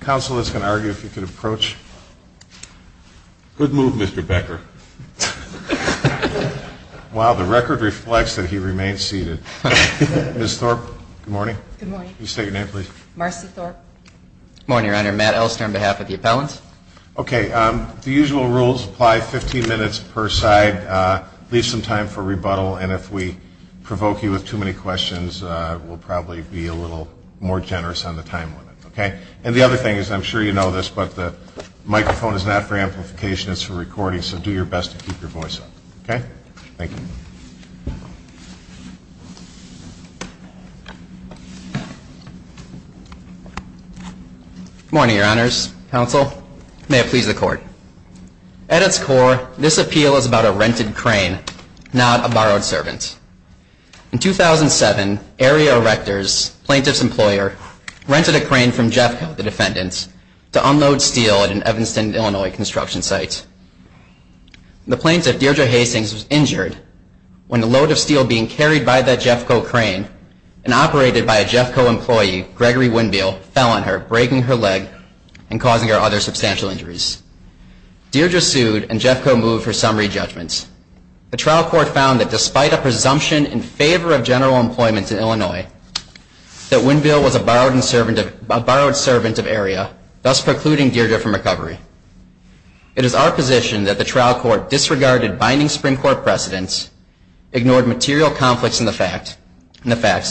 Counsel is going to argue if you can approach. Good move, Mr. Becker. Wow, the record reflects that he remains seated. Ms. Thorpe, good morning. Good morning. Can you state your name, please? Marcy Thorpe. Good morning, Your Honor. Matt Elster on behalf of the appellants. Okay. The usual rules apply 15 minutes per side. Leave some time for rebuttal, and if we provoke you with too many questions, we'll probably be a little more generous on the time limit, okay? And the other thing is, I'm sure you know this, but the microphone is not for amplification, it's for recording, so do your best to keep your voice up, okay? Thank you. Good morning, Your Honors. Counsel, may it please the Court. At its core, this appeal is about a rented crane, not a borrowed servant. In 2007, Ariel Rectors, plaintiff's employer, rented a crane from Jeffco, the defendant, to unload steel at an Evanston, Illinois, construction site. The plaintiff, Deirdre Hastings, was injured when the load of steel being carried by that Jeffco crane and operated by a Jeffco employee, Gregory Winbill, fell on her, breaking her leg and causing her other substantial injuries. Deirdre sued, and Jeffco moved for summary judgment. The trial court found that despite a presumption in favor of general employment in Illinois, that Winbill was a borrowed servant of Ariel, thus precluding Deirdre from recovery. It is our position that the trial court disregarded binding Supreme Court precedents, ignored material conflicts in the facts,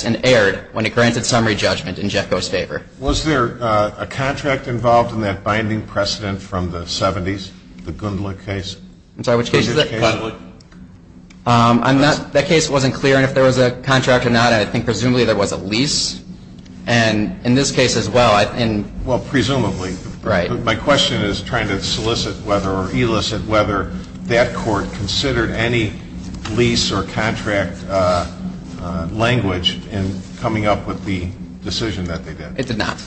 and erred when it granted summary judgment in Jeffco's favor. Was there a contract involved in that binding precedent from the 70s, the Gundla case? I'm sorry, which case is that? That case wasn't clear on if there was a contract or not. I think presumably there was a lease, and in this case as well. Well, presumably. Right. My question is trying to solicit whether or elicit whether that court considered any lease or contract language in coming up with the decision that they did. It did not.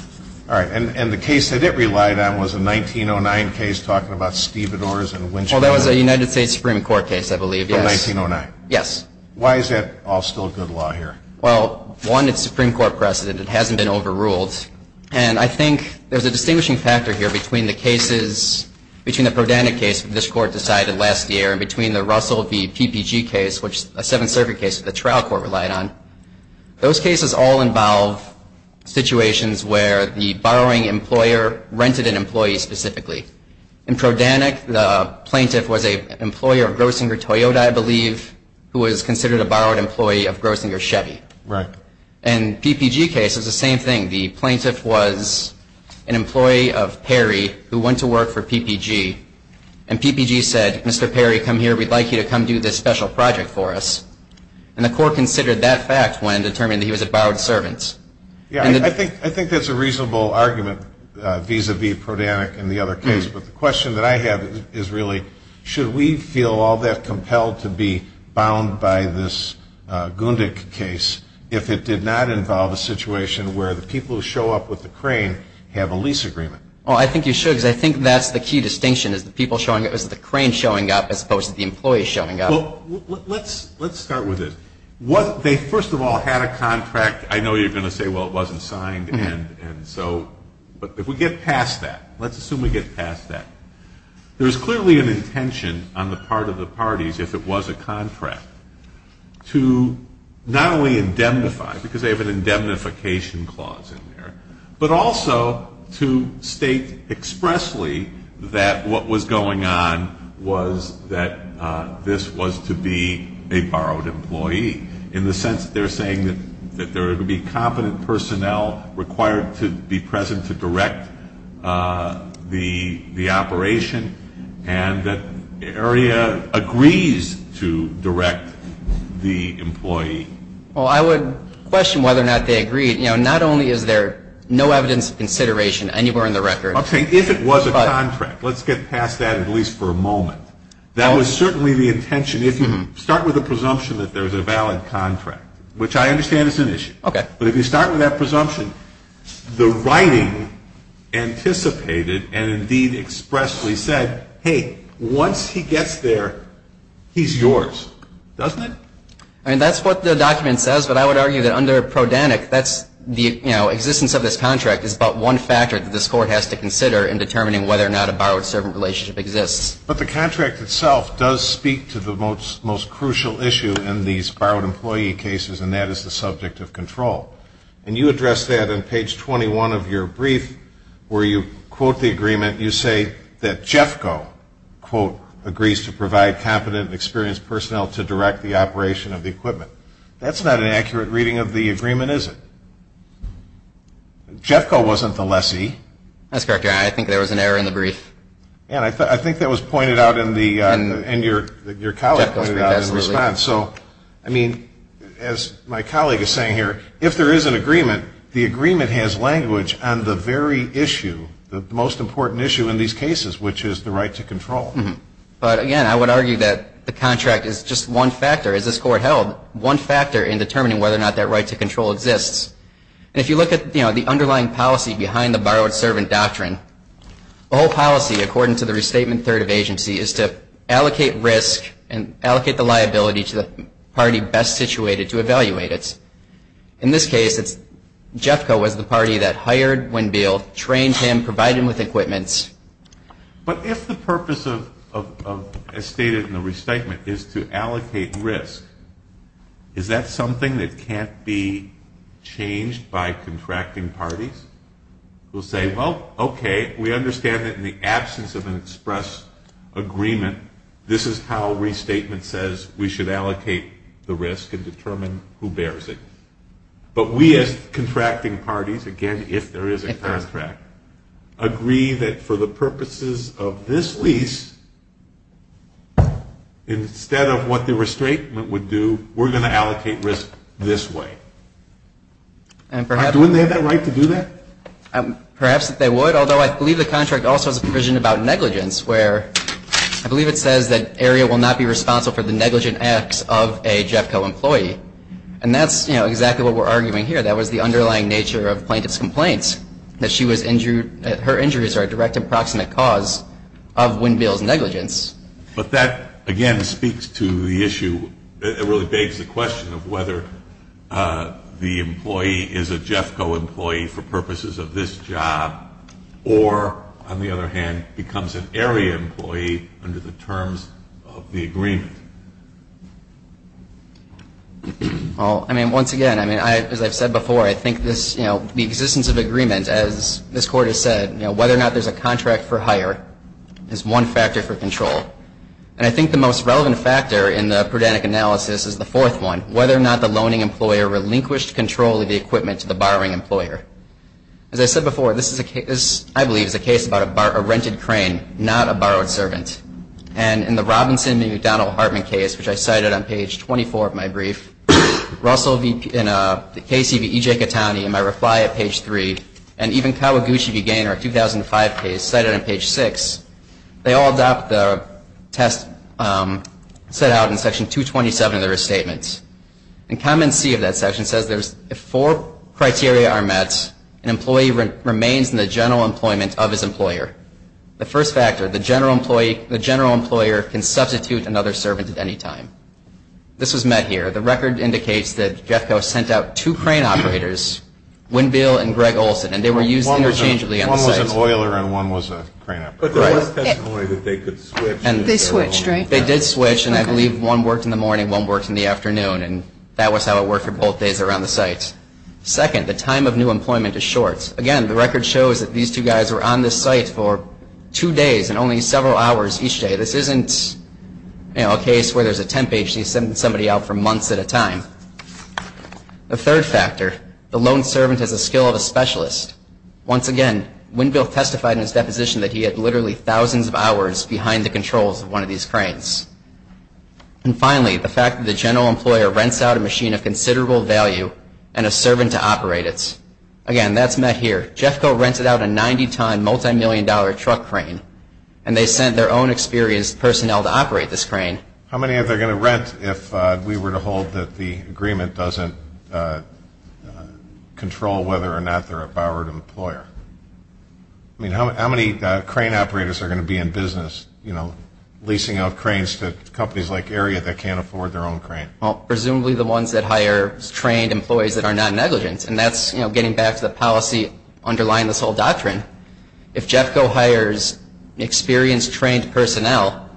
All right. And the case that it relied on was a 1909 case talking about stevedores and winch- Well, that was a United States Supreme Court case, I believe, yes. Oh, 1909. Yes. Why is that all still good law here? Well, one, it's Supreme Court precedent. It hasn't been overruled. And I think there's a distinguishing factor here between the cases, between the Prodana case that this Court decided last year and between the Russell v. PPG case, which is a Seventh Circuit case that the trial court relied on. Those cases all involve situations where the borrowing employer rented an employee specifically. In Prodana, the plaintiff was an employer of Grossinger Toyota, I believe, who was considered a borrowed employee of Grossinger Chevy. Right. And PPG case, it was the same thing. The plaintiff was an employee of Perry who went to work for PPG, and PPG said, Mr. Perry, come here. We'd like you to come do this special project for us. And the court considered that fact when it determined that he was a borrowed servant. Yeah, I think that's a reasonable argument vis-à-vis Prodana and the other case. But the question that I have is really, should we feel all that compelled to be bound by this Gundick case if it did not involve a situation where the people who show up with the crane have a lease agreement? Well, I think you should because I think that's the key distinction, is the crane showing up as opposed to the employee showing up. Well, let's start with this. They first of all had a contract. I know you're going to say, well, it wasn't signed, and so, but if we get past that, let's assume we get past that. There's clearly an intention on the part of the parties, if it was a contract, to not only indemnify, because they have an indemnification clause in there, but also to state expressly that what was going on was that this was to be a borrowed employee, in the sense that they're saying that there would be competent personnel required to be present to direct the operation and that the area agrees to direct the employee. Well, I would question whether or not they agreed. You know, not only is there no evidence of consideration anywhere in the record. I'm saying if it was a contract, let's get past that at least for a moment. That was certainly the intention. If you start with a presumption that there was a valid contract, which I understand is an issue. Okay. But if you start with that presumption, the writing anticipated and indeed expressly said, hey, once he gets there, he's yours, doesn't it? I mean, that's what the document says, but I would argue that under PRODANIC, the existence of this contract is but one factor that this Court has to consider in determining whether or not a borrowed servant relationship exists. But the contract itself does speak to the most crucial issue in these borrowed employee cases, and that is the subject of control. And you address that on page 21 of your brief, where you quote the agreement. You say that JEFCO, quote, agrees to provide competent and experienced personnel to direct the operation of the equipment. That's not an accurate reading of the agreement, is it? JEFCO wasn't the lessee. That's correct. I think there was an error in the brief. And I think that was pointed out in your colleague's response. So, I mean, as my colleague is saying here, if there is an agreement, the agreement has language on the very issue, the most important issue in these cases, which is the right to control. But, again, I would argue that the contract is just one factor, as this Court held, one factor in determining whether or not that right to control exists. And if you look at the underlying policy behind the borrowed servant doctrine, the whole policy, according to the Restatement Third of Agency, is to allocate risk and allocate the liability to the party best situated to evaluate it. In this case, it's JEFCO was the party that hired Winn-Beal, trained him, provided him with equipments. But if the purpose of, as stated in the Restatement, is to allocate risk, is that something that can't be changed by contracting parties who say, well, okay, we understand that in the absence of an express agreement, this is how restatement says we should allocate the risk and determine who bears it. But we, as contracting parties, again, if there is a contract, agree that for the purposes of this lease, instead of what the restatement would do, we're going to allocate risk this way. Wouldn't they have that right to do that? Perhaps they would, although I believe the contract also has a provision about negligence, where I believe it says that area will not be responsible for the negligent acts of a JEFCO employee. And that's exactly what we're arguing here. That was the underlying nature of plaintiff's complaints, that her injuries are a direct and proximate cause of Winn-Beal's negligence. But that, again, speaks to the issue. It really begs the question of whether the employee is a JEFCO employee for purposes of this job or, on the other hand, becomes an area employee under the terms of the agreement. Well, I mean, once again, I mean, as I've said before, I think this, you know, the existence of agreement, as this Court has said, you know, whether or not there's a contract for hire is one factor for control. And I think the most relevant factor in the prudentic analysis is the fourth one, whether or not the loaning employer relinquished control of the equipment to the borrowing employer. As I said before, this, I believe, is a case about a rented crane, not a borrowed servant. And in the Robinson v. McDonnell-Hartman case, which I cited on page 24 of my brief, Russell v. Casey v. E.J. Catani in my reply at page 3, and even Kawaguchi v. Gaynor, a 2005 case, cited on page 6, they all adopt the test set out in Section 227 of the Restatements. And comment C of that section says, if four criteria are met, an employee remains in the general employment of his employer. The first factor, the general employee, the general employer can substitute another servant at any time. This was met here. The record indicates that Jeffco sent out two crane operators, Winbill and Greg Olson, and they were used interchangeably on the site. One was an oiler and one was a crane operator. But there was testimony that they could switch. They switched, right? They did switch, and I believe one worked in the morning, one worked in the afternoon, and that was how it worked for both days around the site. Second, the time of new employment is short. Again, the record shows that these two guys were on this site for two days and only several hours each day. This isn't a case where there's a temp agency sending somebody out for months at a time. The third factor, the loaned servant has a skill of a specialist. Once again, Winbill testified in his deposition that he had literally thousands of hours behind the controls of one of these cranes. And finally, the fact that the general employer rents out a machine of considerable value and a servant to operate it. Again, that's met here. Jeffco rented out a 90-ton, multimillion-dollar truck crane, and they sent their own experienced personnel to operate this crane. How many are they going to rent if we were to hold that the agreement doesn't control whether or not they're a borrowed employer? I mean, how many crane operators are going to be in business, you know, leasing out cranes to companies like Area that can't afford their own crane? Well, presumably the ones that hire trained employees that are non-negligent. And that's, you know, getting back to the policy underlying this whole doctrine. If Jeffco hires experienced, trained personnel,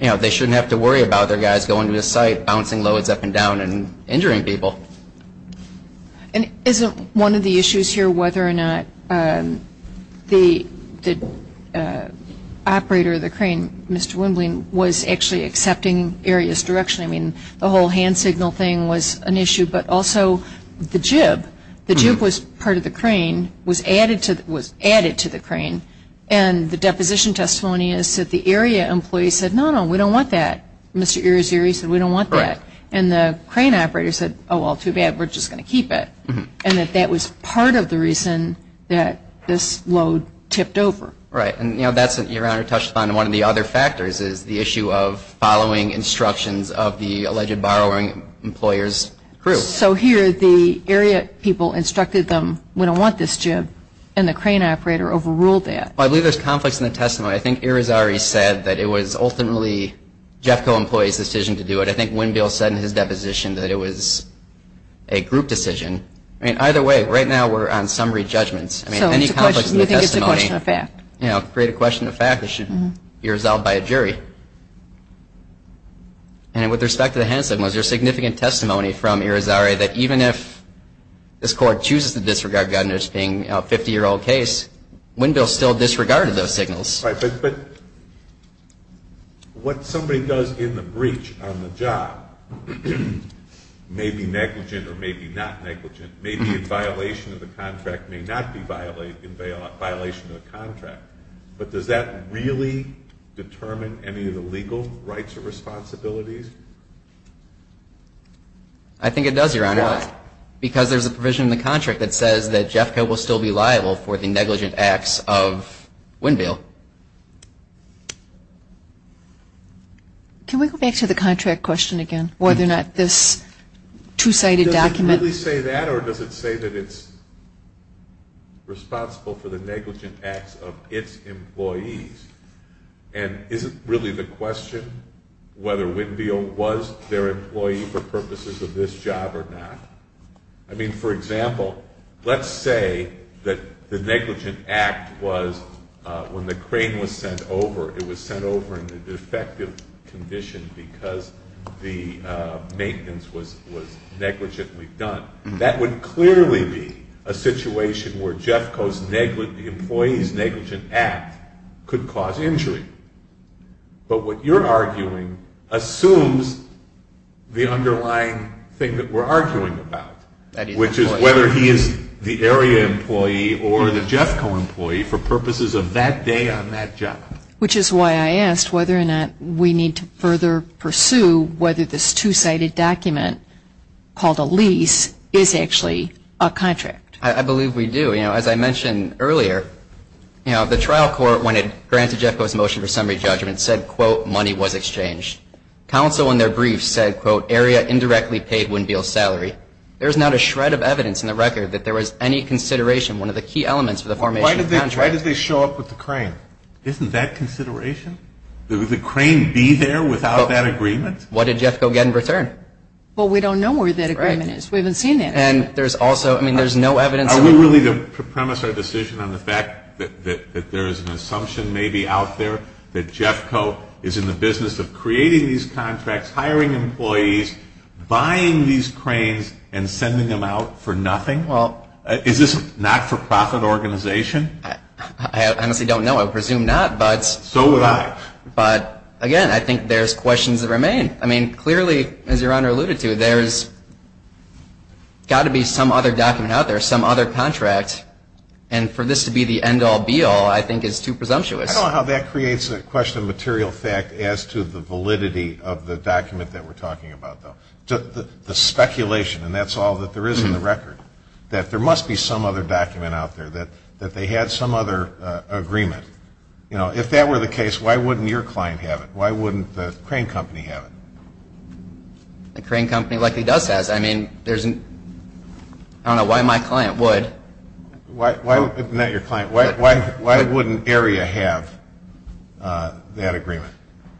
you know, they shouldn't have to worry about their guys going to this site, bouncing loads up and down, and injuring people. And isn't one of the issues here whether or not the operator of the crane, Mr. Wembley, was actually accepting Area's direction? I mean, the whole hand signal thing was an issue, but also the jib. The jib was part of the crane, was added to the crane, and the deposition testimony is that the Area employee said, no, no, we don't want that. Mr. Irizarry said, we don't want that. And the crane operator said, oh, well, too bad. We're just going to keep it. And that that was part of the reason that this load tipped over. Right. And, you know, that's, Your Honor, touched upon one of the other factors is the issue of following instructions of the alleged borrowing employer's crew. So here the Area people instructed them, we don't want this jib, and the crane operator overruled that. Well, I believe there's conflicts in the testimony. I think Irizarry said that it was ultimately Jeffco employees' decision to do it. I think Windbill said in his deposition that it was a group decision. I mean, either way, right now we're on summary judgments. I mean, any conflicts in the testimony, you know, create a question of fact that should be resolved by a jury. And with respect to the hand signals, there's significant testimony from Irizarry that even if this Court chooses to disregard Gunnar's being a 50-year-old case, Windbill still disregarded those signals. Right. But what somebody does in the breach on the job may be negligent or may be not negligent, may be in violation of the contract, may not be in violation of the contract, but does that really determine any of the legal rights or responsibilities? I think it does, Your Honor. Why? Because there's a provision in the contract that says that Jeffco will still be liable for the negligent acts of Windbill. Can we go back to the contract question again, whether or not this two-sided document? Does it really say that, or does it say that it's responsible for the negligent acts of its employees? And is it really the question whether Windbill was their employee for purposes of this job or not? I mean, for example, let's say that the negligent act was when the crane was sent over, it was sent over in the defective condition because the maintenance was negligently done. That would clearly be a situation where Jeffco's employee's negligent act could cause injury. But what you're arguing assumes the underlying thing that we're arguing about, which is whether he is the area employee or the Jeffco employee for purposes of that day on that job. Which is why I asked whether or not we need to further pursue whether this two-sided document called a lease is actually a contract. I believe we do. As I mentioned earlier, the trial court, when it granted Jeffco's motion for summary judgment, said, quote, money was exchanged. Counsel in their brief said, quote, area indirectly paid Windbill's salary. There is not a shred of evidence in the record that there was any consideration, one of the key elements of the formation of the contract. Why did they show up with the crane? Isn't that consideration? Would the crane be there without that agreement? What did Jeffco get in return? Well, we don't know where that agreement is. We haven't seen it. And there's also, I mean, there's no evidence. Are we willing to premise our decision on the fact that there is an assumption maybe out there that Jeffco is in the business of creating these contracts, hiring employees, buying these cranes, and sending them out for nothing? Is this a not-for-profit organization? I honestly don't know. I presume not. So would I. But, again, I think there's questions that remain. I mean, clearly, as Your Honor alluded to, there's got to be some other document out there, some other contract, and for this to be the end-all, be-all, I think is too presumptuous. I don't know how that creates a question of material fact as to the validity of the document that we're talking about, though. The speculation, and that's all that there is in the record, that there must be some other document out there, that they had some other agreement. You know, if that were the case, why wouldn't your client have it? Why wouldn't the crane company have it? The crane company likely does have it. I don't know why my client would. Not your client. Why wouldn't AREA have that agreement,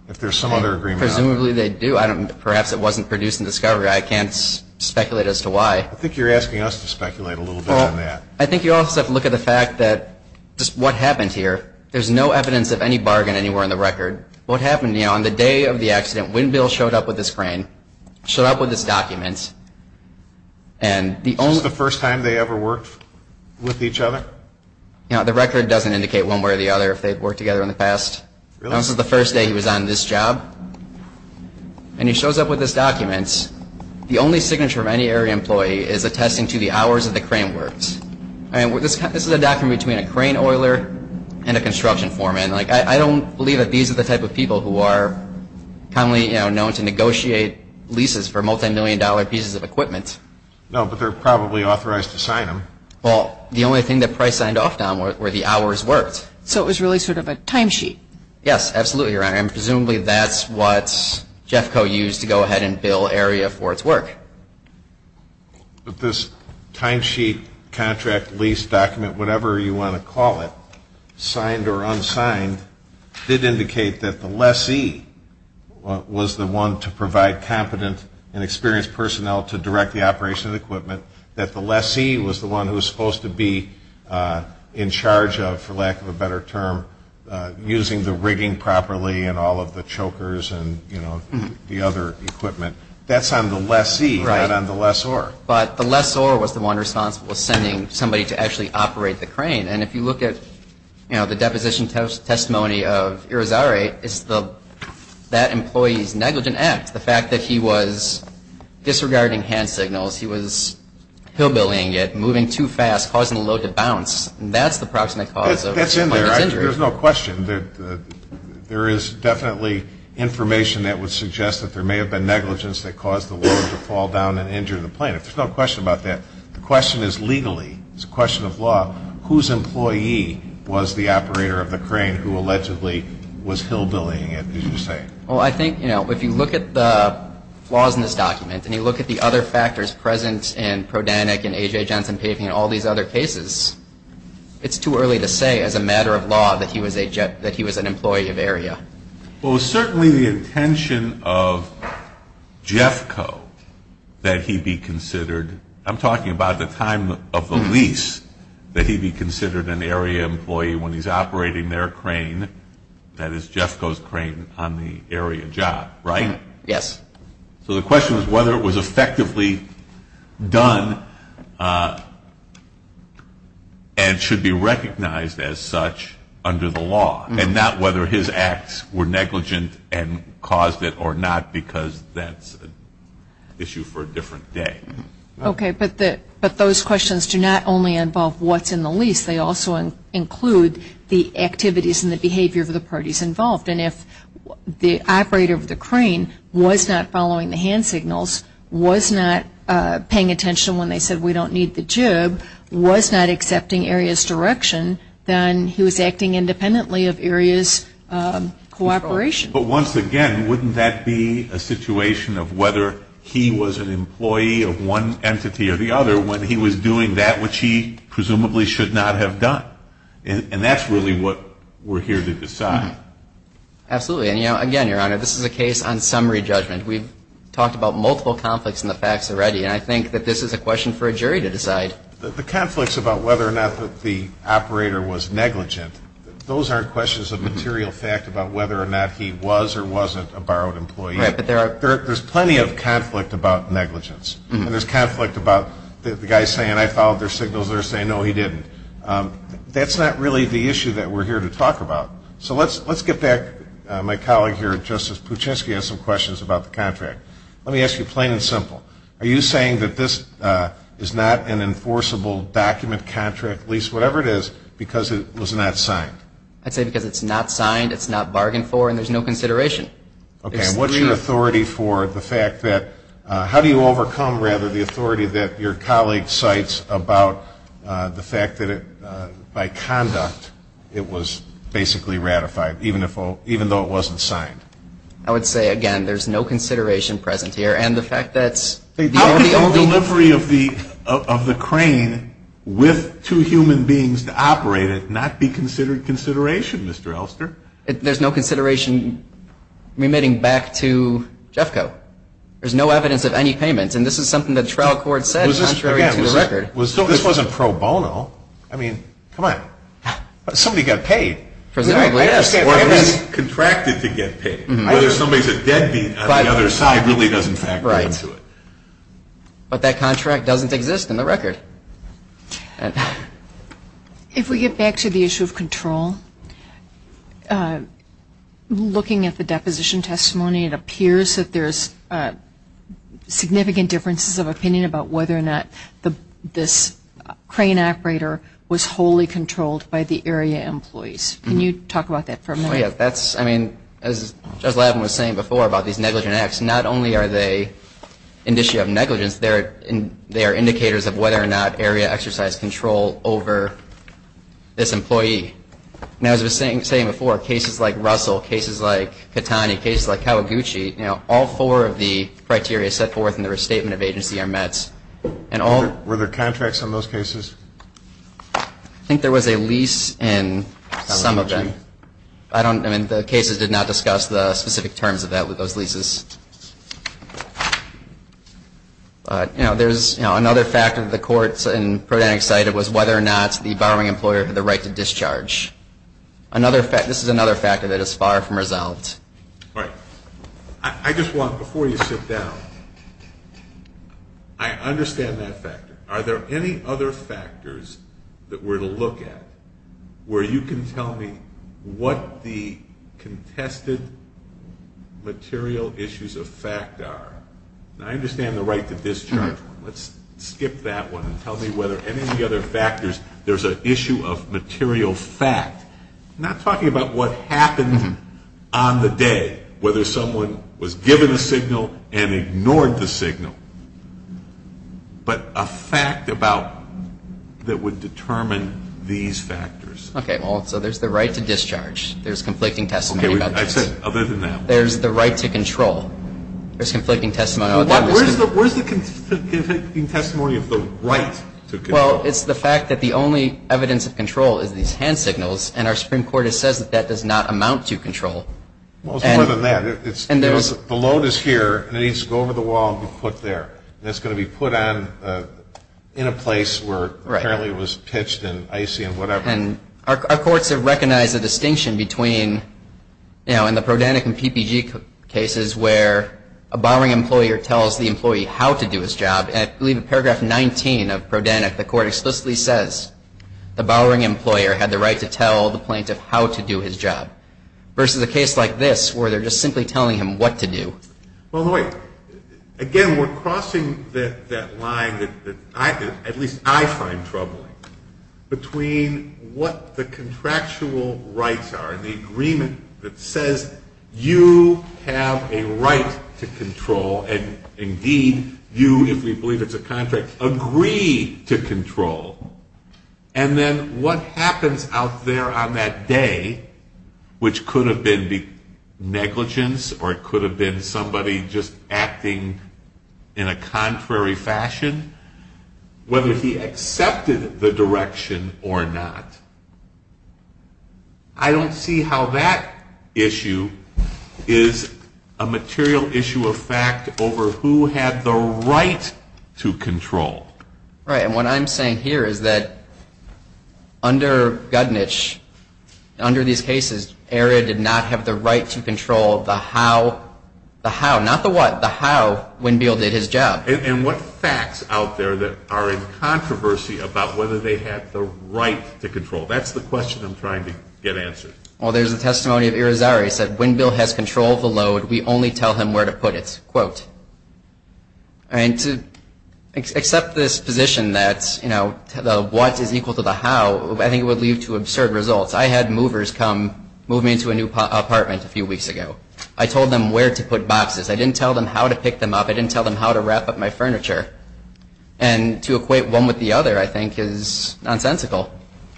if there's some other agreement? Presumably they do. Perhaps it wasn't produced in discovery. I can't speculate as to why. I think you're asking us to speculate a little bit on that. Well, I think you also have to look at the fact that just what happened here, there's no evidence of any bargain anywhere in the record. What happened, you know, on the day of the accident, when Bill showed up with this crane, showed up with this document. Is this the first time they ever worked with each other? You know, the record doesn't indicate one way or the other if they've worked together in the past. Really? This is the first day he was on this job. And he shows up with this document. The only signature of any AREA employee is attesting to the hours that the crane works. This is a document between a crane oiler and a construction foreman. Like, I don't believe that these are the type of people who are commonly, you know, known to negotiate leases for multimillion-dollar pieces of equipment. No, but they're probably authorized to sign them. Well, the only thing that Price signed off on were the hours worked. So it was really sort of a timesheet. Yes, absolutely, Your Honor. And presumably that's what Jeffco used to go ahead and bill AREA for its work. But this timesheet, contract, lease, document, whatever you want to call it, signed or unsigned, did indicate that the lessee was the one to provide competent and experienced personnel to direct the operation of the equipment, that the lessee was the one who was supposed to be in charge of, for lack of a better term, using the rigging properly and all of the chokers and, you know, the other equipment. That's on the lessee, not on the lessor. Right. But the lessor was the one responsible for sending somebody to actually operate the crane. And if you look at, you know, the deposition testimony of Irizarry, it's that employee's negligent act, the fact that he was disregarding hand signals, he was hillbillying it, moving too fast, causing the load to bounce, that's the proximate cause of his injury. That's in there. There's no question. There is definitely information that would suggest that there may have been negligence that caused the load to fall down and injure the plane. There's no question about that. The question is legally, it's a question of law, whose employee was the operator of the crane who allegedly was hillbillying it, as you say. Well, I think, you know, if you look at the laws in this document and you look at the other factors present in Prodanyk and A.J. Johnson Paving and all these other cases, it's too early to say as a matter of law that he was an employee of AREA. Well, it was certainly the intention of Jeffco that he be considered, I'm talking about the time of the lease, that he be considered an AREA employee when he's operating their crane, that is Jeffco's crane on the AREA job, right? Yes. So the question is whether it was effectively done and should be recognized as such under the law and not whether his acts were negligent and caused it or not because that's an issue for a different day. Okay, but those questions do not only involve what's in the lease. They also include the activities and the behavior of the parties involved. And if the operator of the crane was not following the hand signals, was not paying attention when they said we don't need the jib, was not accepting AREA's direction, then he was acting independently of AREA's cooperation. But once again, wouldn't that be a situation of whether he was an employee of one entity or the other when he was doing that which he presumably should not have done? And that's really what we're here to decide. Absolutely. And, you know, again, Your Honor, this is a case on summary judgment. We've talked about multiple conflicts in the facts already, and I think that this is a question for a jury to decide. The conflicts about whether or not the operator was negligent, those aren't questions of material fact about whether or not he was or wasn't a borrowed employee. Right, but there are. There's plenty of conflict about negligence. And there's conflict about the guy saying I followed their signals, they're saying no, he didn't. That's not really the issue that we're here to talk about. So let's get back. My colleague here, Justice Puchinsky, has some questions about the contract. Let me ask you plain and simple. Are you saying that this is not an enforceable document, contract, lease, whatever it is, because it was not signed? I'd say because it's not signed, it's not bargained for, and there's no consideration. Okay. What about the authority that your colleague cites about the fact that, by conduct, it was basically ratified, even though it wasn't signed? I would say, again, there's no consideration present here. And the fact that it's the OBLB. How could the delivery of the crane with two human beings to operate it not be considered consideration, Mr. Elster? There's no consideration remitting back to JFCO. There's no evidence of any payment. And this is something the trial court said, contrary to the record. This wasn't pro bono. I mean, come on. Somebody got paid. Presumably, yes. Or contracted to get paid. Whether somebody's a deadbeat on the other side really doesn't factor into it. Right. But that contract doesn't exist in the record. If we get back to the issue of control, looking at the deposition testimony, it appears that there's significant differences of opinion about whether or not this crane operator was wholly controlled by the area employees. Can you talk about that for a minute? Oh, yeah. That's, I mean, as Judge Lavin was saying before about these negligent acts, not only are they an issue of negligence, they are indicators of whether or not area exercised control over this employee. Now, as I was saying before, cases like Russell, cases like Catani, cases like Kawaguchi, all four of the criteria set forth in the restatement of agency are met. Were there contracts on those cases? I think there was a lease in some of them. I don't know. I mean, the cases did not discuss the specific terms of that with those leases. You know, there's another factor that the courts in Prodentic cited was whether or not the borrowing employer had the right to discharge. This is another factor that is far from resolved. All right. I just want, before you sit down, I understand that factor. Are there any other factors that we're to look at where you can tell me what the contested material issues of fact are? Now, I understand the right to discharge. Let's skip that one and tell me whether any of the other factors, there's an issue of material fact. I'm not talking about what happened on the day, whether someone was given a signal and ignored the signal, but a fact about that would determine these factors. Okay. Well, so there's the right to discharge. There's conflicting testimony about that. Okay. I said other than that. There's the right to control. There's conflicting testimony about that. Where's the conflicting testimony of the right to control? Well, it's the fact that the only evidence of control is these hand signals, and our Supreme Court has said that that does not amount to control. Well, it's more than that. The load is here, and it needs to go over the wall and be put there. And it's going to be put on in a place where apparently it was pitched and icy and whatever. And our courts have recognized the distinction between, you know, in the Prodanyk and PPG cases where a Bowering employer tells the employee how to do his job, and I believe in paragraph 19 of Prodanyk, the court explicitly says the Bowering employer had the right to tell the plaintiff how to do his job, versus a case like this where they're just simply telling him what to do. Well, Lloyd, again, we're crossing that line that at least I find troubling between what the contractual rights are and the agreement that says you have a right to control, and indeed you, if we believe it's a contract, agree to control, and then what happens out there on that day, which could have been negligence or it could have been somebody just acting in a contrary fashion, whether he accepted the direction or not. I don't see how that issue is a material issue of fact over who had the right to control. Right, and what I'm saying here is that under Gudnitch, under these cases, ERA did not have the right to control the how, the how, not the what, the how Windmill did his job. And what facts out there that are in controversy about whether they had the right to control? That's the question I'm trying to get answered. Well, there's a testimony of Irizarry. He said, Windmill has control of the load. We only tell him where to put it, quote. And to accept this position that, you know, the what is equal to the how, I think it would lead to absurd results. I had movers come, move me into a new apartment a few weeks ago. I told them where to put boxes. I didn't tell them how to pick them up. I didn't tell them how to wrap up my furniture. And to equate one with the other, I think, is nonsensical.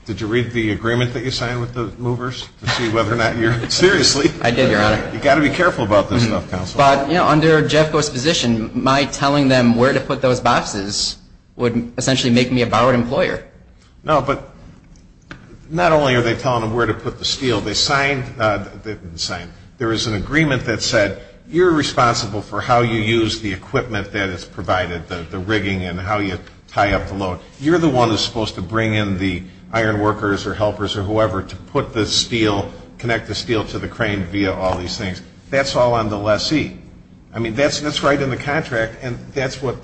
Did you read the agreement that you signed with the movers to see whether or not you're seriously? I did, Your Honor. You've got to be careful about this stuff, Counsel. But, you know, under Jeffko's position, my telling them where to put those boxes would essentially make me a borrowed employer. No, but not only are they telling them where to put the steel, they signed, they didn't sign, there is an agreement that said you're responsible for how you use the equipment that is provided, the rigging and how you tie up the load. You're the one who's supposed to bring in the iron workers or helpers or whoever to put the steel, connect the steel to the crane via all these things. That's all on the lessee. I mean, that's right in the contract, and that's what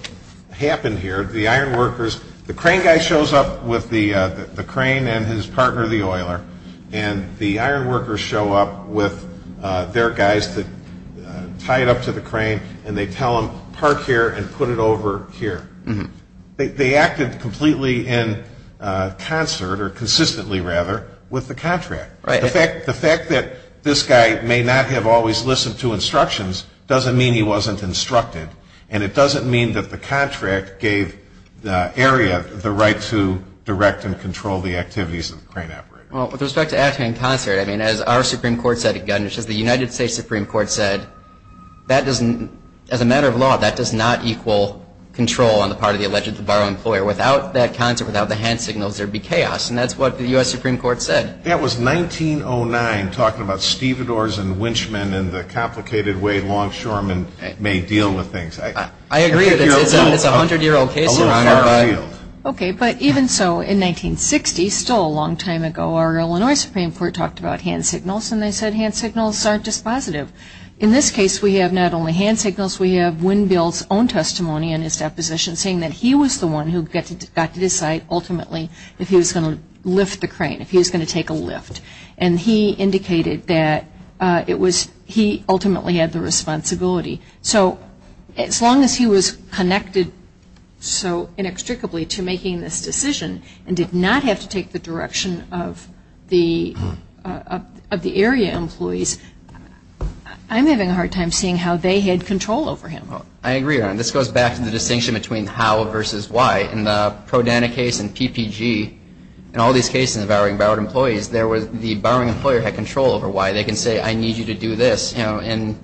happened here. The crane guy shows up with the crane and his partner, the oiler, and the iron workers show up with their guys to tie it up to the crane, and they tell them park here and put it over here. They acted completely in concert or consistently, rather, with the contract. The fact that this guy may not have always listened to instructions doesn't mean he wasn't instructed, and it doesn't mean that the contract gave the area the right to direct and control the activities of the crane operator. Well, with respect to acting in concert, I mean, as our Supreme Court said again, which is the United States Supreme Court said, as a matter of law, that does not equal control on the part of the alleged borrowed employer. Without that concert, without the hand signals, there would be chaos, and that's what the U.S. Supreme Court said. That was 1909, talking about stevedores and winchmen and the complicated way longshoremen may deal with things. I agree that it's a 100-year-old case, Your Honor. Okay, but even so, in 1960, still a long time ago, our Illinois Supreme Court talked about hand signals, and they said hand signals aren't dispositive. In this case, we have not only hand signals, we have Winn-Bill's own testimony in his deposition, saying that he was the one who got to decide ultimately if he was going to lift the crane, if he was going to take a lift. And he indicated that it was he ultimately had the responsibility. So as long as he was connected so inextricably to making this decision and did not have to take the direction of the area employees, I'm having a hard time seeing how they had control over him. I agree, Your Honor. This goes back to the distinction between how versus why. In the Prodana case and PPG, in all these cases involving borrowed employees, the borrowing employer had control over why. They can say, I need you to do this. In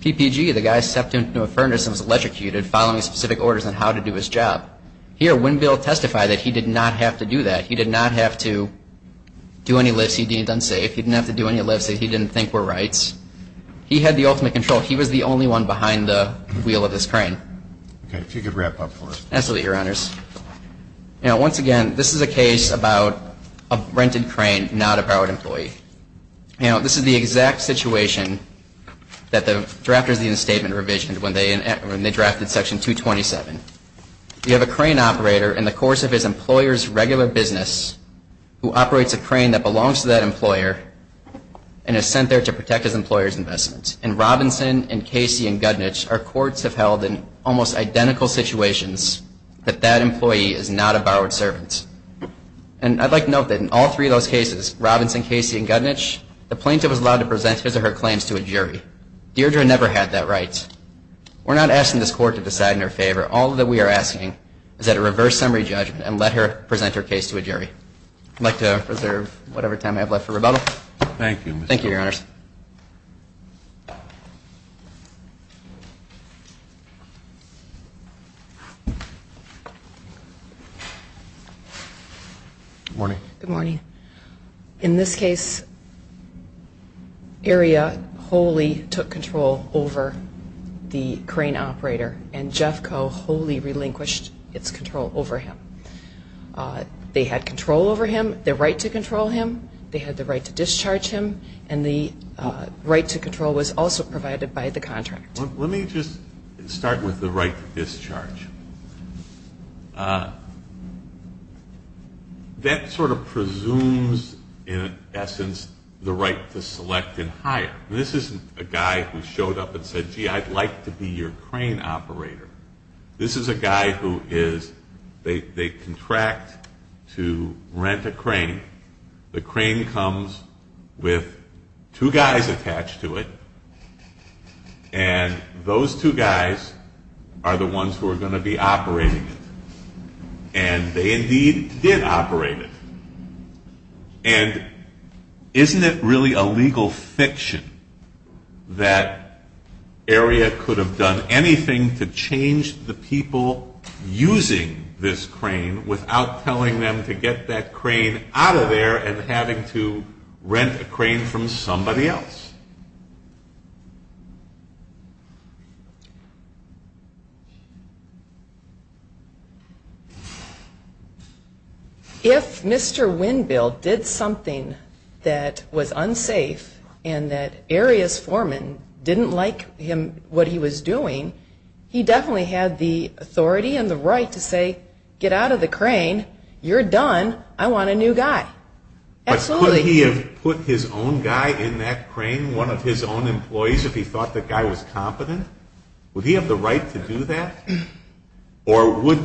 PPG, the guy stepped into a furnace and was electrocuted, following specific orders on how to do his job. Here, Winn-Bill testified that he did not have to do that. He did not have to do any lifts. He deemed unsafe. He didn't have to do any lifts that he didn't think were rights. He had the ultimate control. He was the only one behind the wheel of this crane. Okay, if you could wrap up for us. Absolutely, Your Honors. Now, once again, this is a case about a rented crane, not a borrowed employee. Now, this is the exact situation that the drafters of the instatement revisioned when they drafted Section 227. You have a crane operator in the course of his employer's regular business who operates a crane that belongs to that employer and is sent there to protect his employer's investment. In Robinson and Casey and Guttnitz, our courts have held in almost identical situations that that employee is not a borrowed servant. And I'd like to note that in all three of those cases, Robinson, Casey, and Guttnitz, the plaintiff was allowed to present his or her claims to a jury. Deirdre never had that right. We're not asking this Court to decide in her favor. All that we are asking is that a reverse summary judgment and let her present her case to a jury. I'd like to reserve whatever time I have left for rebuttal. Thank you, Mr. Cooper. Thank you, Your Honors. Good morning. Good morning. In this case, Aria wholly took control over the crane operator, and Jeff Coe wholly relinquished its control over him. They had control over him, the right to control him, they had the right to discharge him, and the right to control was also provided by the contractor. Let me just say, let's just start with the right to discharge. That sort of presumes, in essence, the right to select and hire. This isn't a guy who showed up and said, gee, I'd like to be your crane operator. This is a guy who is, they contract to rent a crane. The crane comes with two guys attached to it, and those two guys are the ones who are going to be operating it. And they indeed did operate it. And isn't it really a legal fiction that Aria could have done anything to change the people using this crane without telling them to get that crane out of there and having to rent a crane from somebody else? If Mr. Winbill did something that was unsafe and that Aria's foreman didn't like what he was doing, he definitely had the authority and the right to say, get out of the crane. You're done. I want a new guy. Absolutely. But could he have put his own guy in that crane, one of his own employees, if he thought the guy was competent? Would he have the right to do that? Or would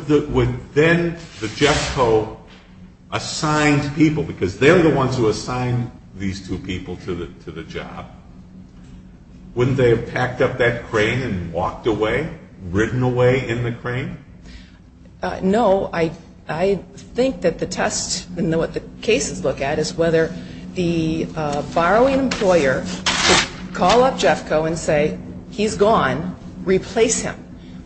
then the JECCO assigned people, because they're the ones who assign these two people to the job, wouldn't they have packed up that crane and walked away, ridden away in the crane? No. I think that the test, and what the cases look at, is whether the borrowing employer could call up JECCO and say, he's gone, replace him.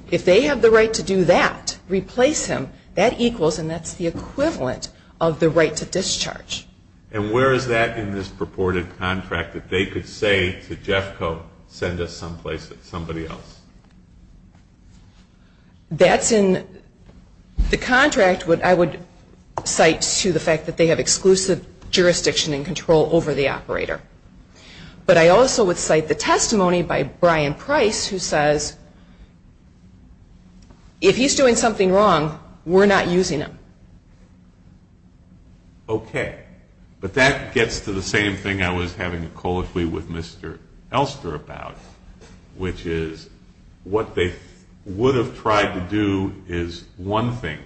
If they have the right to do that, replace him, that equals and that's the equivalent of the right to discharge. And where is that in this purported contract, that they could say to JECCO, send us someplace, somebody else? That's in the contract. I would cite to the fact that they have exclusive jurisdiction and control over the operator. But I also would cite the testimony by Brian Price, who says, if he's doing something wrong, we're not using him. Okay. But that gets to the same thing I was having a call with Mr. Elster about, which is, what they would have tried to do is one thing.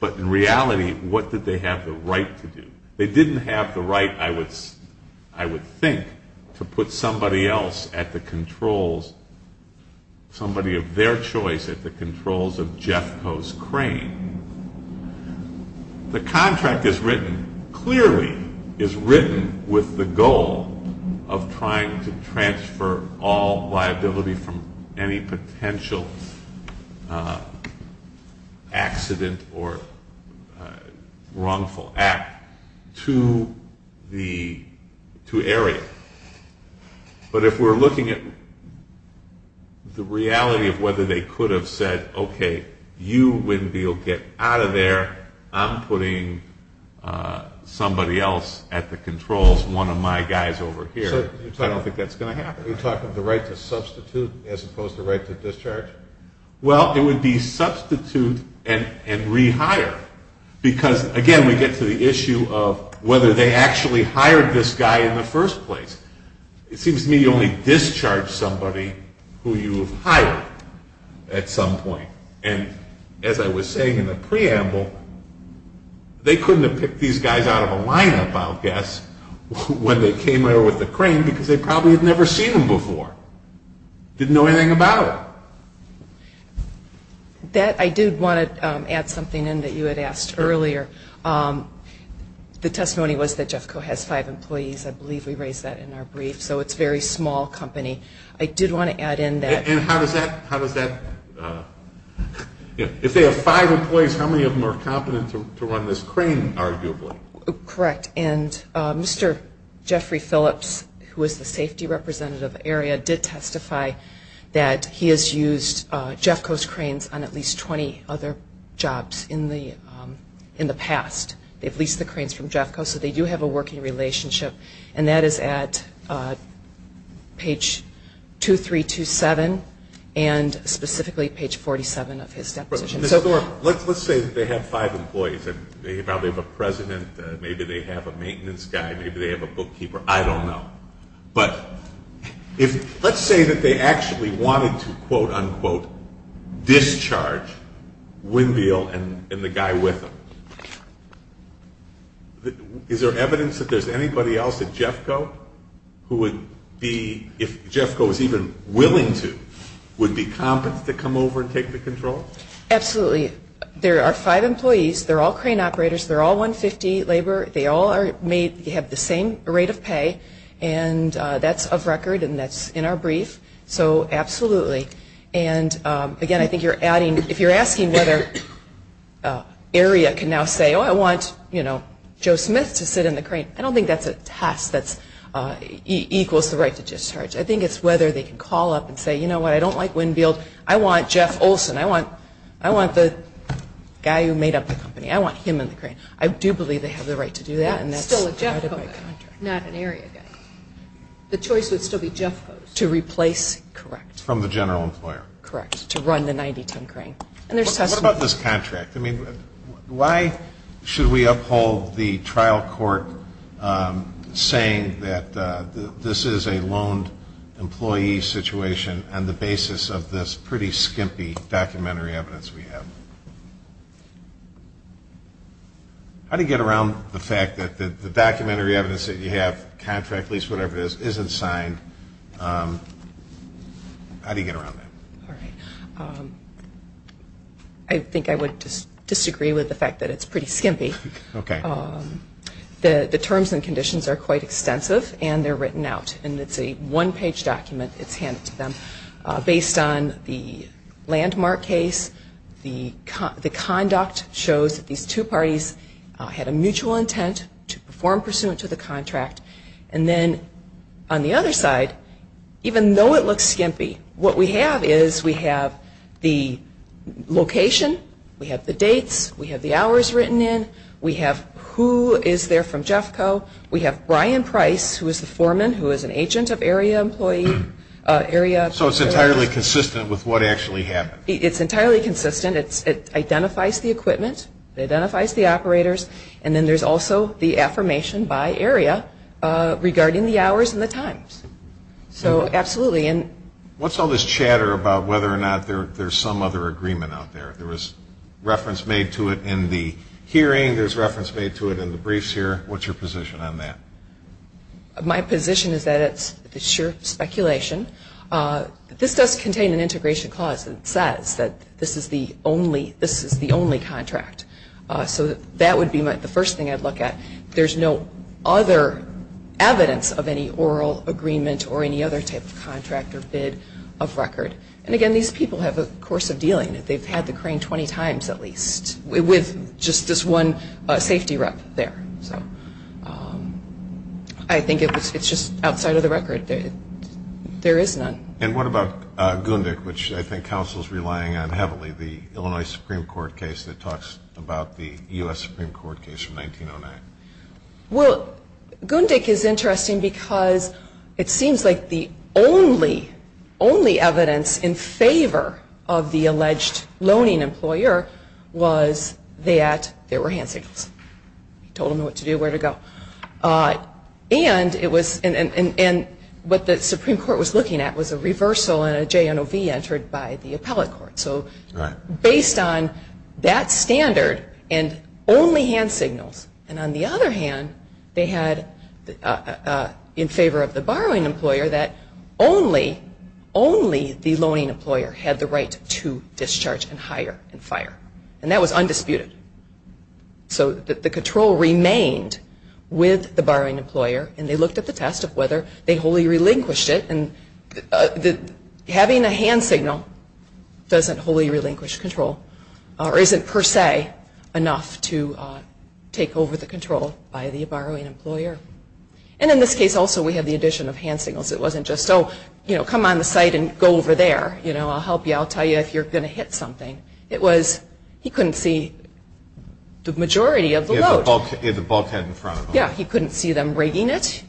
But in reality, what did they have the right to do? They didn't have the right, I would think, to put somebody else at the controls, somebody of their choice, at the controls of JECCO's crane. The contract is written, clearly is written, with the goal of trying to transfer all liability from any potential accident or wrongful act to area. But if we're looking at the reality of whether they could have said, okay, you, Winn-Deal, get out of there, I'm putting somebody else at the controls, one of my guys over here, I don't think that's going to happen. You're talking of the right to substitute as opposed to the right to discharge? Well, it would be substitute and rehire, because, again, we get to the issue of whether they actually hired this guy in the first place. It seems to me you only discharge somebody who you have hired at some point. And as I was saying in the preamble, they couldn't have picked these guys out of a lineup, I'll guess, when they came here with the crane because they probably had never seen them before, didn't know anything about it. I did want to add something in that you had asked earlier. The testimony was that JECCO has five employees. I believe we raised that in our brief. So it's a very small company. I did want to add in that. And how does that – if they have five employees, how many of them are competent to run this crane, arguably? Correct. And Mr. Jeffrey Phillips, who is the safety representative area, did testify that he has used JECCO's cranes on at least 20 other jobs in the past. They've leased the cranes from JECCO, so they do have a working relationship. And that is at page 2327 and specifically page 47 of his deposition. Ms. Thorpe, let's say that they have five employees. They probably have a president. Maybe they have a maintenance guy. Maybe they have a bookkeeper. I don't know. But let's say that they actually wanted to, quote, unquote, discharge Wendell and the guy with them. Is there evidence that there's anybody else at JECCO who would be, if JECCO was even willing to, would be competent to come over and take the control? Absolutely. There are five employees. They're all crane operators. They're all 150 labor. They all have the same rate of pay. And that's of record and that's in our brief. So absolutely. And, again, I think you're adding, if you're asking whether area can now say, oh, I want, you know, Joe Smith to sit in the crane, I don't think that's a task that equals the right to discharge. I think it's whether they can call up and say, you know what, I don't like Winfield. I want Jeff Olson. I want the guy who made up the company. I want him in the crane. I do believe they have the right to do that. And that's guided by contract. Not an area guy. The choice would still be JECCO's. To replace? Correct. From the general employer. Correct. To run the 90-ton crane. And there's testimony. What about this contract? I mean, why should we uphold the trial court saying that this is a loaned employee situation on the basis of this pretty skimpy documentary evidence we have? How do you get around the fact that the documentary evidence that you have, contract, lease, whatever it is, isn't signed? How do you get around that? All right. I think I would disagree with the fact that it's pretty skimpy. Okay. The terms and conditions are quite extensive, and they're written out. And it's a one-page document. It's handed to them. Based on the landmark case, the conduct shows that these two parties had a mutual intent to perform pursuant to the contract. And then on the other side, even though it looks skimpy, what we have is we have the location. We have the dates. We have the hours written in. We have who is there from JECCO. We have Brian Price, who is the foreman, who is an agent of area employees. So it's entirely consistent with what actually happened? It's entirely consistent. It identifies the equipment. It identifies the operators. And then there's also the affirmation by area regarding the hours and the times. So absolutely. What's all this chatter about whether or not there's some other agreement out there? There was reference made to it in the hearing. There's reference made to it in the briefs here. What's your position on that? My position is that it's sheer speculation. This does contain an integration clause that says that this is the only contract. So that would be the first thing I'd look at. There's no other evidence of any oral agreement or any other type of contract or bid of record. And, again, these people have a course of dealing. They've had the crane 20 times at least with just this one safety rep there. So I think it's just outside of the record. There is none. And what about Gundic, which I think counsel is relying on heavily, the Illinois Supreme Court case that talks about the U.S. Supreme Court case from 1909? Well, Gundic is interesting because it seems like the only evidence in favor of the alleged loaning employer was that there were hand signals. He told them what to do, where to go. And what the Supreme Court was looking at was a reversal and a JNOV entered by the appellate court. So based on that standard and only hand signals, and on the other hand they had in favor of the borrowing employer that only the loaning employer had the right to discharge and hire and fire. And that was undisputed. So the control remained with the borrowing employer, and they looked at the test of whether they wholly relinquished it. Having a hand signal doesn't wholly relinquish control, or isn't per se enough to take over the control by the borrowing employer. And in this case also we have the addition of hand signals. It wasn't just, oh, come on the site and go over there. I'll help you. I'll tell you if you're going to hit something. It was he couldn't see the majority of the load. He had the bulkhead in front of him. Yeah, he couldn't see them rigging it.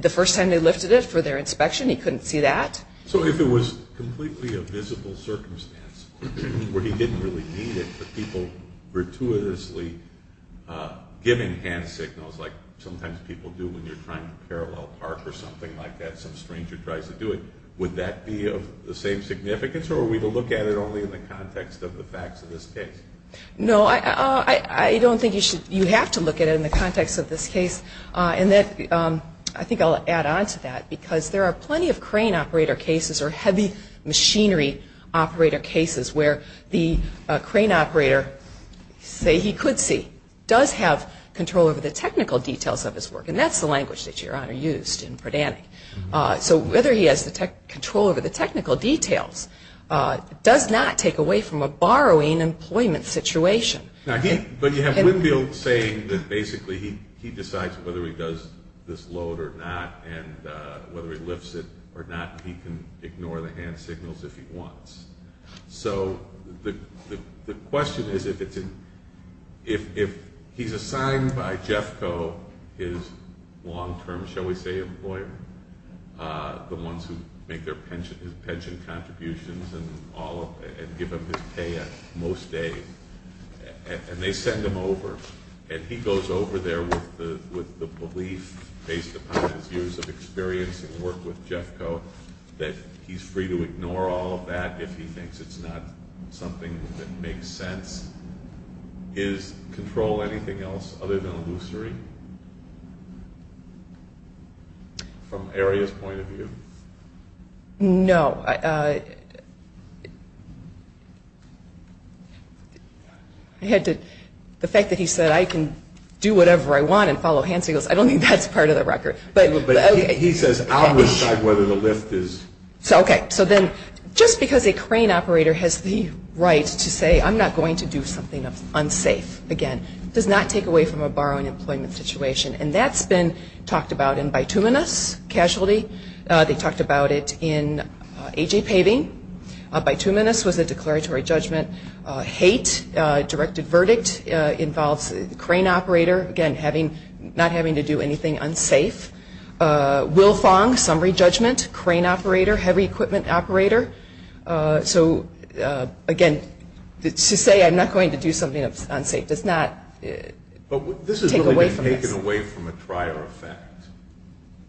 The first time they lifted it for their inspection he couldn't see that. So if it was completely a visible circumstance where he didn't really need it, but people gratuitously giving hand signals, like sometimes people do when you're trying to parallel park or something like that, some stranger tries to do it, would that be of the same significance, or are we to look at it only in the context of the facts of this case? No, I don't think you have to look at it in the context of this case. I think I'll add on to that because there are plenty of crane operator cases or heavy machinery operator cases where the crane operator, say he could see, does have control over the technical details of his work, and that's the language that Your Honor used in Predannick. So whether he has control over the technical details does not take away from a borrowing employment situation. But you have Winfield saying that basically he decides whether he does this load or not, and whether he lifts it or not, and he can ignore the hand signals if he wants. So the question is if he's assigned by Jeffco his long-term, shall we say, employer, the ones who make his pension contributions and give him his pay on most days, and they send him over, and he goes over there with the belief, based upon his years of experience and work with Jeffco, that he's free to ignore all of that if he thinks it's not something that makes sense, is control anything else other than illusory from Aria's point of view? No. The fact that he said I can do whatever I want and follow hand signals, I don't think that's part of the record. But he says I'll decide whether the lift is. Okay. So then just because a crane operator has the right to say I'm not going to do something unsafe again does not take away from a borrowing employment situation, and that's been talked about in bituminous casualty. They talked about it in AJ paving. Bituminous was a declaratory judgment. Hate, directed verdict, involves crane operator, again, not having to do anything unsafe. Wilfong, summary judgment, crane operator, heavy equipment operator. So, again, to say I'm not going to do something unsafe does not take away from this. It's taken away from a prior effect,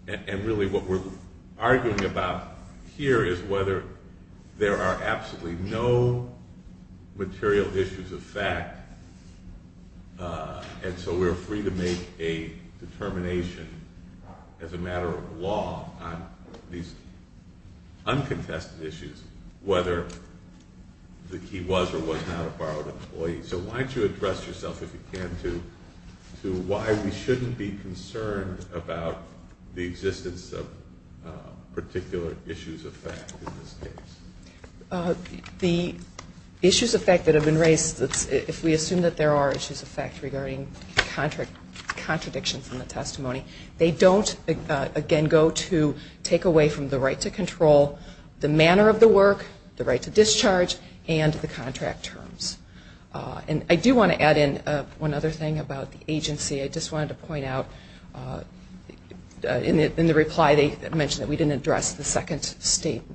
and really what we're arguing about here is whether there are absolutely no material issues of fact, and so we're free to make a determination as a matter of law on these uncontested issues, whether he was or was not a borrowed employee. So why don't you address yourself, if you can, to why we shouldn't be concerned about the existence of particular issues of fact in this case. The issues of fact that have been raised, if we assume that there are issues of fact regarding contradictions in the testimony, they don't, again, go to take away from the right to control the manner of the work, the right to discharge, and the contract terms. And I do want to add in one other thing about the agency. I just wanted to point out, in the reply, they mentioned that we didn't address the second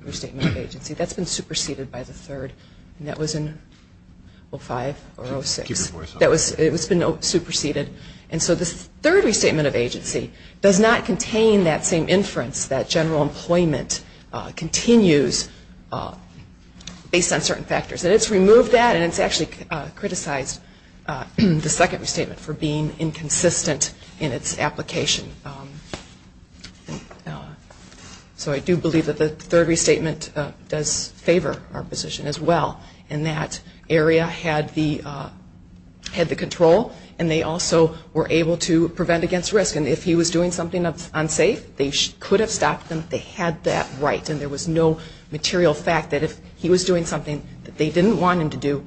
restatement of agency. That's been superseded by the third, and that was in 05 or 06. Keep your voice up. It's been superseded, and so the third restatement of agency does not contain that same inference, that general employment continues based on certain factors. And it's removed that, and it's actually criticized the second restatement for being inconsistent in its application. So I do believe that the third restatement does favor our position as well, in that area had the control, and they also were able to prevent against risk. And if he was doing something unsafe, they could have stopped them. They had that right. And there was no material fact that if he was doing something that they didn't want him to do,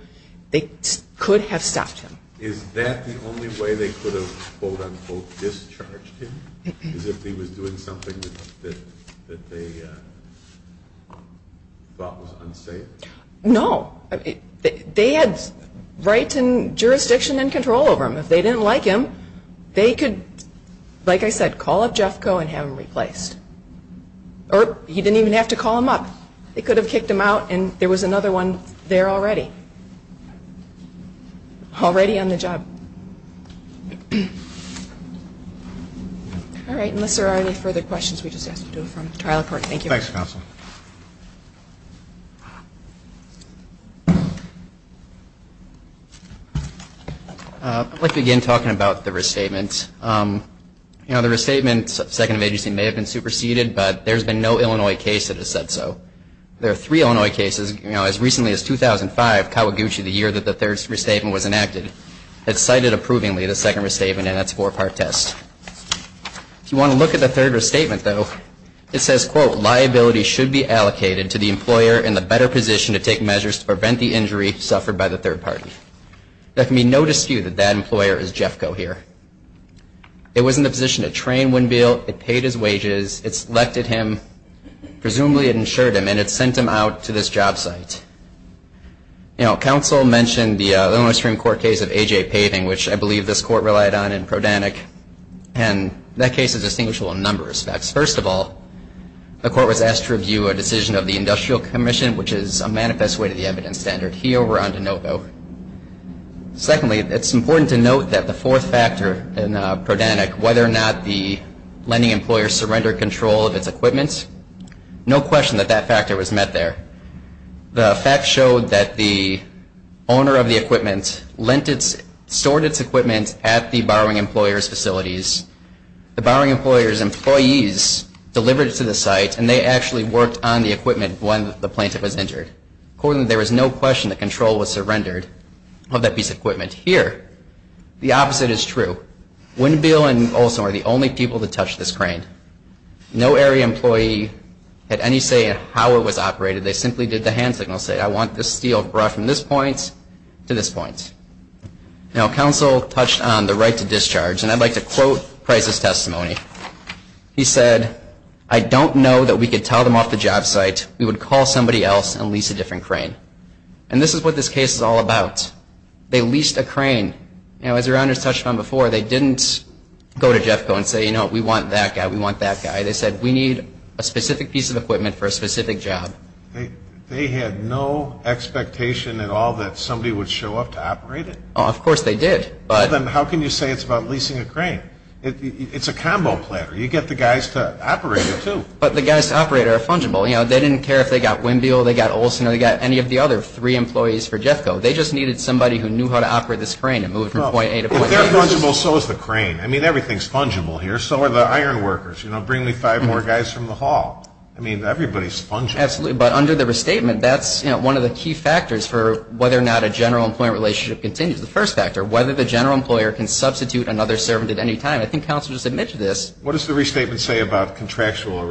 they could have stopped him. Is that the only way they could have, quote, unquote, discharged him, is if he was doing something that they thought was unsafe? No. They had rights and jurisdiction and control over him. If they didn't like him, they could, like I said, call up Jeff Coe and have him replaced. Or he didn't even have to call him up. They could have kicked him out, and there was another one there already, already on the job. All right. Unless there are any further questions, we just ask to do it from the trial court. Thank you. Thanks, counsel. I'd like to begin talking about the restatement. You know, the restatement, second of agency, may have been superseded, but there's been no Illinois case that has said so. There are three Illinois cases, you know, as recently as 2005, Kawaguchi, the year that the third restatement was enacted, that cited approvingly the second restatement in its four-part test. If you want to look at the third restatement, though, it says, quote, liability should be allocated to the employer in the better position to take measures to prevent the injury suffered by the third party. There can be no dispute that that employer is Jeff Coe here. It was in the position to train Winfield, it paid his wages, it selected him, presumably it insured him, and it sent him out to this job site. You know, counsel mentioned the Illinois Supreme Court case of A.J. Paving, which I believe this court relied on in Prodanyk, and that case is distinguishable in a number of respects. First of all, the court was asked to review a decision of the Industrial Commission, which is a manifest way to the evidence standard. He overran to no vote. Secondly, it's important to note that the fourth factor in Prodanyk, whether or not the lending employer surrendered control of its equipment, no question that that factor was met there. The facts showed that the owner of the equipment lent its – stored its equipment at the borrowing employer's facilities. The borrowing employer's employees delivered it to the site and they actually worked on the equipment when the plaintiff was injured. Accordingly, there was no question that control was surrendered of that piece of equipment. Here, the opposite is true. Winfield and Olson were the only people to touch this crane. No area employee had any say in how it was operated. They simply did the hand signal, say, I want this steel brought from this point to this point. Now, counsel touched on the right to discharge, and I'd like to quote Price's testimony. He said, I don't know that we could tell them off the job site. We would call somebody else and lease a different crane. And this is what this case is all about. They leased a crane. Now, as your honors touched on before, they didn't go to Jeffco and say, you know what, we want that guy, we want that guy. They said, we need a specific piece of equipment for a specific job. They had no expectation at all that somebody would show up to operate it? Of course they did. Well, then how can you say it's about leasing a crane? It's a combo plan. You get the guys to operate it, too. But the guys to operate it are fungible. They didn't care if they got Winfield, they got Olson, or they got any of the other three employees for Jeffco. They just needed somebody who knew how to operate this crane and move from point A to point B. If they're fungible, so is the crane. I mean, everything's fungible here. So are the iron workers. Bring me five more guys from the hall. I mean, everybody's fungible. Absolutely. But under the restatement, that's one of the key factors for whether or not a general employment relationship continues. The first factor, whether the general employer can substitute another servant at any time. I think counsel just admitted to this. What does the restatement say about contractual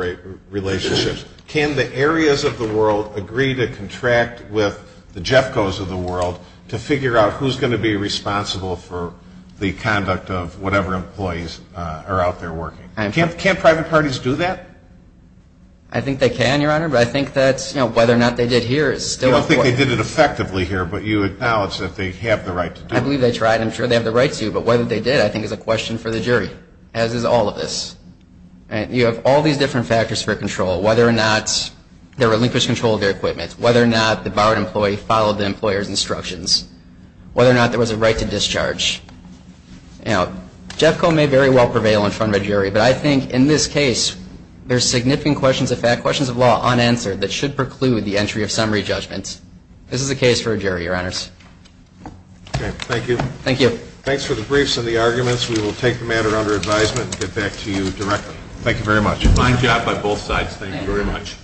relationships? Can the areas of the world agree to contract with the Jeffcos of the world to figure out who's going to be responsible for the conduct of whatever employees are out there working? Can't private parties do that? I think they can, Your Honor. But I think that's, you know, whether or not they did here is still important. I don't think they did it effectively here, but you acknowledge that they have the right to do it. I believe they tried. I'm sure they have the right to. But whether they did, I think, is a question for the jury, as is all of this. You have all these different factors for control, whether or not there were linkage control of their equipment, whether or not the barred employee followed the employer's instructions, whether or not there was a right to discharge. You know, Jeffco may very well prevail in front of a jury, but I think in this case, there's significant questions of fact, questions of law, unanswered, that should preclude the entry of summary judgments. This is a case for a jury, Your Honors. Okay. Thank you. Thank you. Thanks for the briefs and the arguments. We will take the matter under advisement and get back to you directly. Thank you very much. Fine job by both sides. Thank you very much.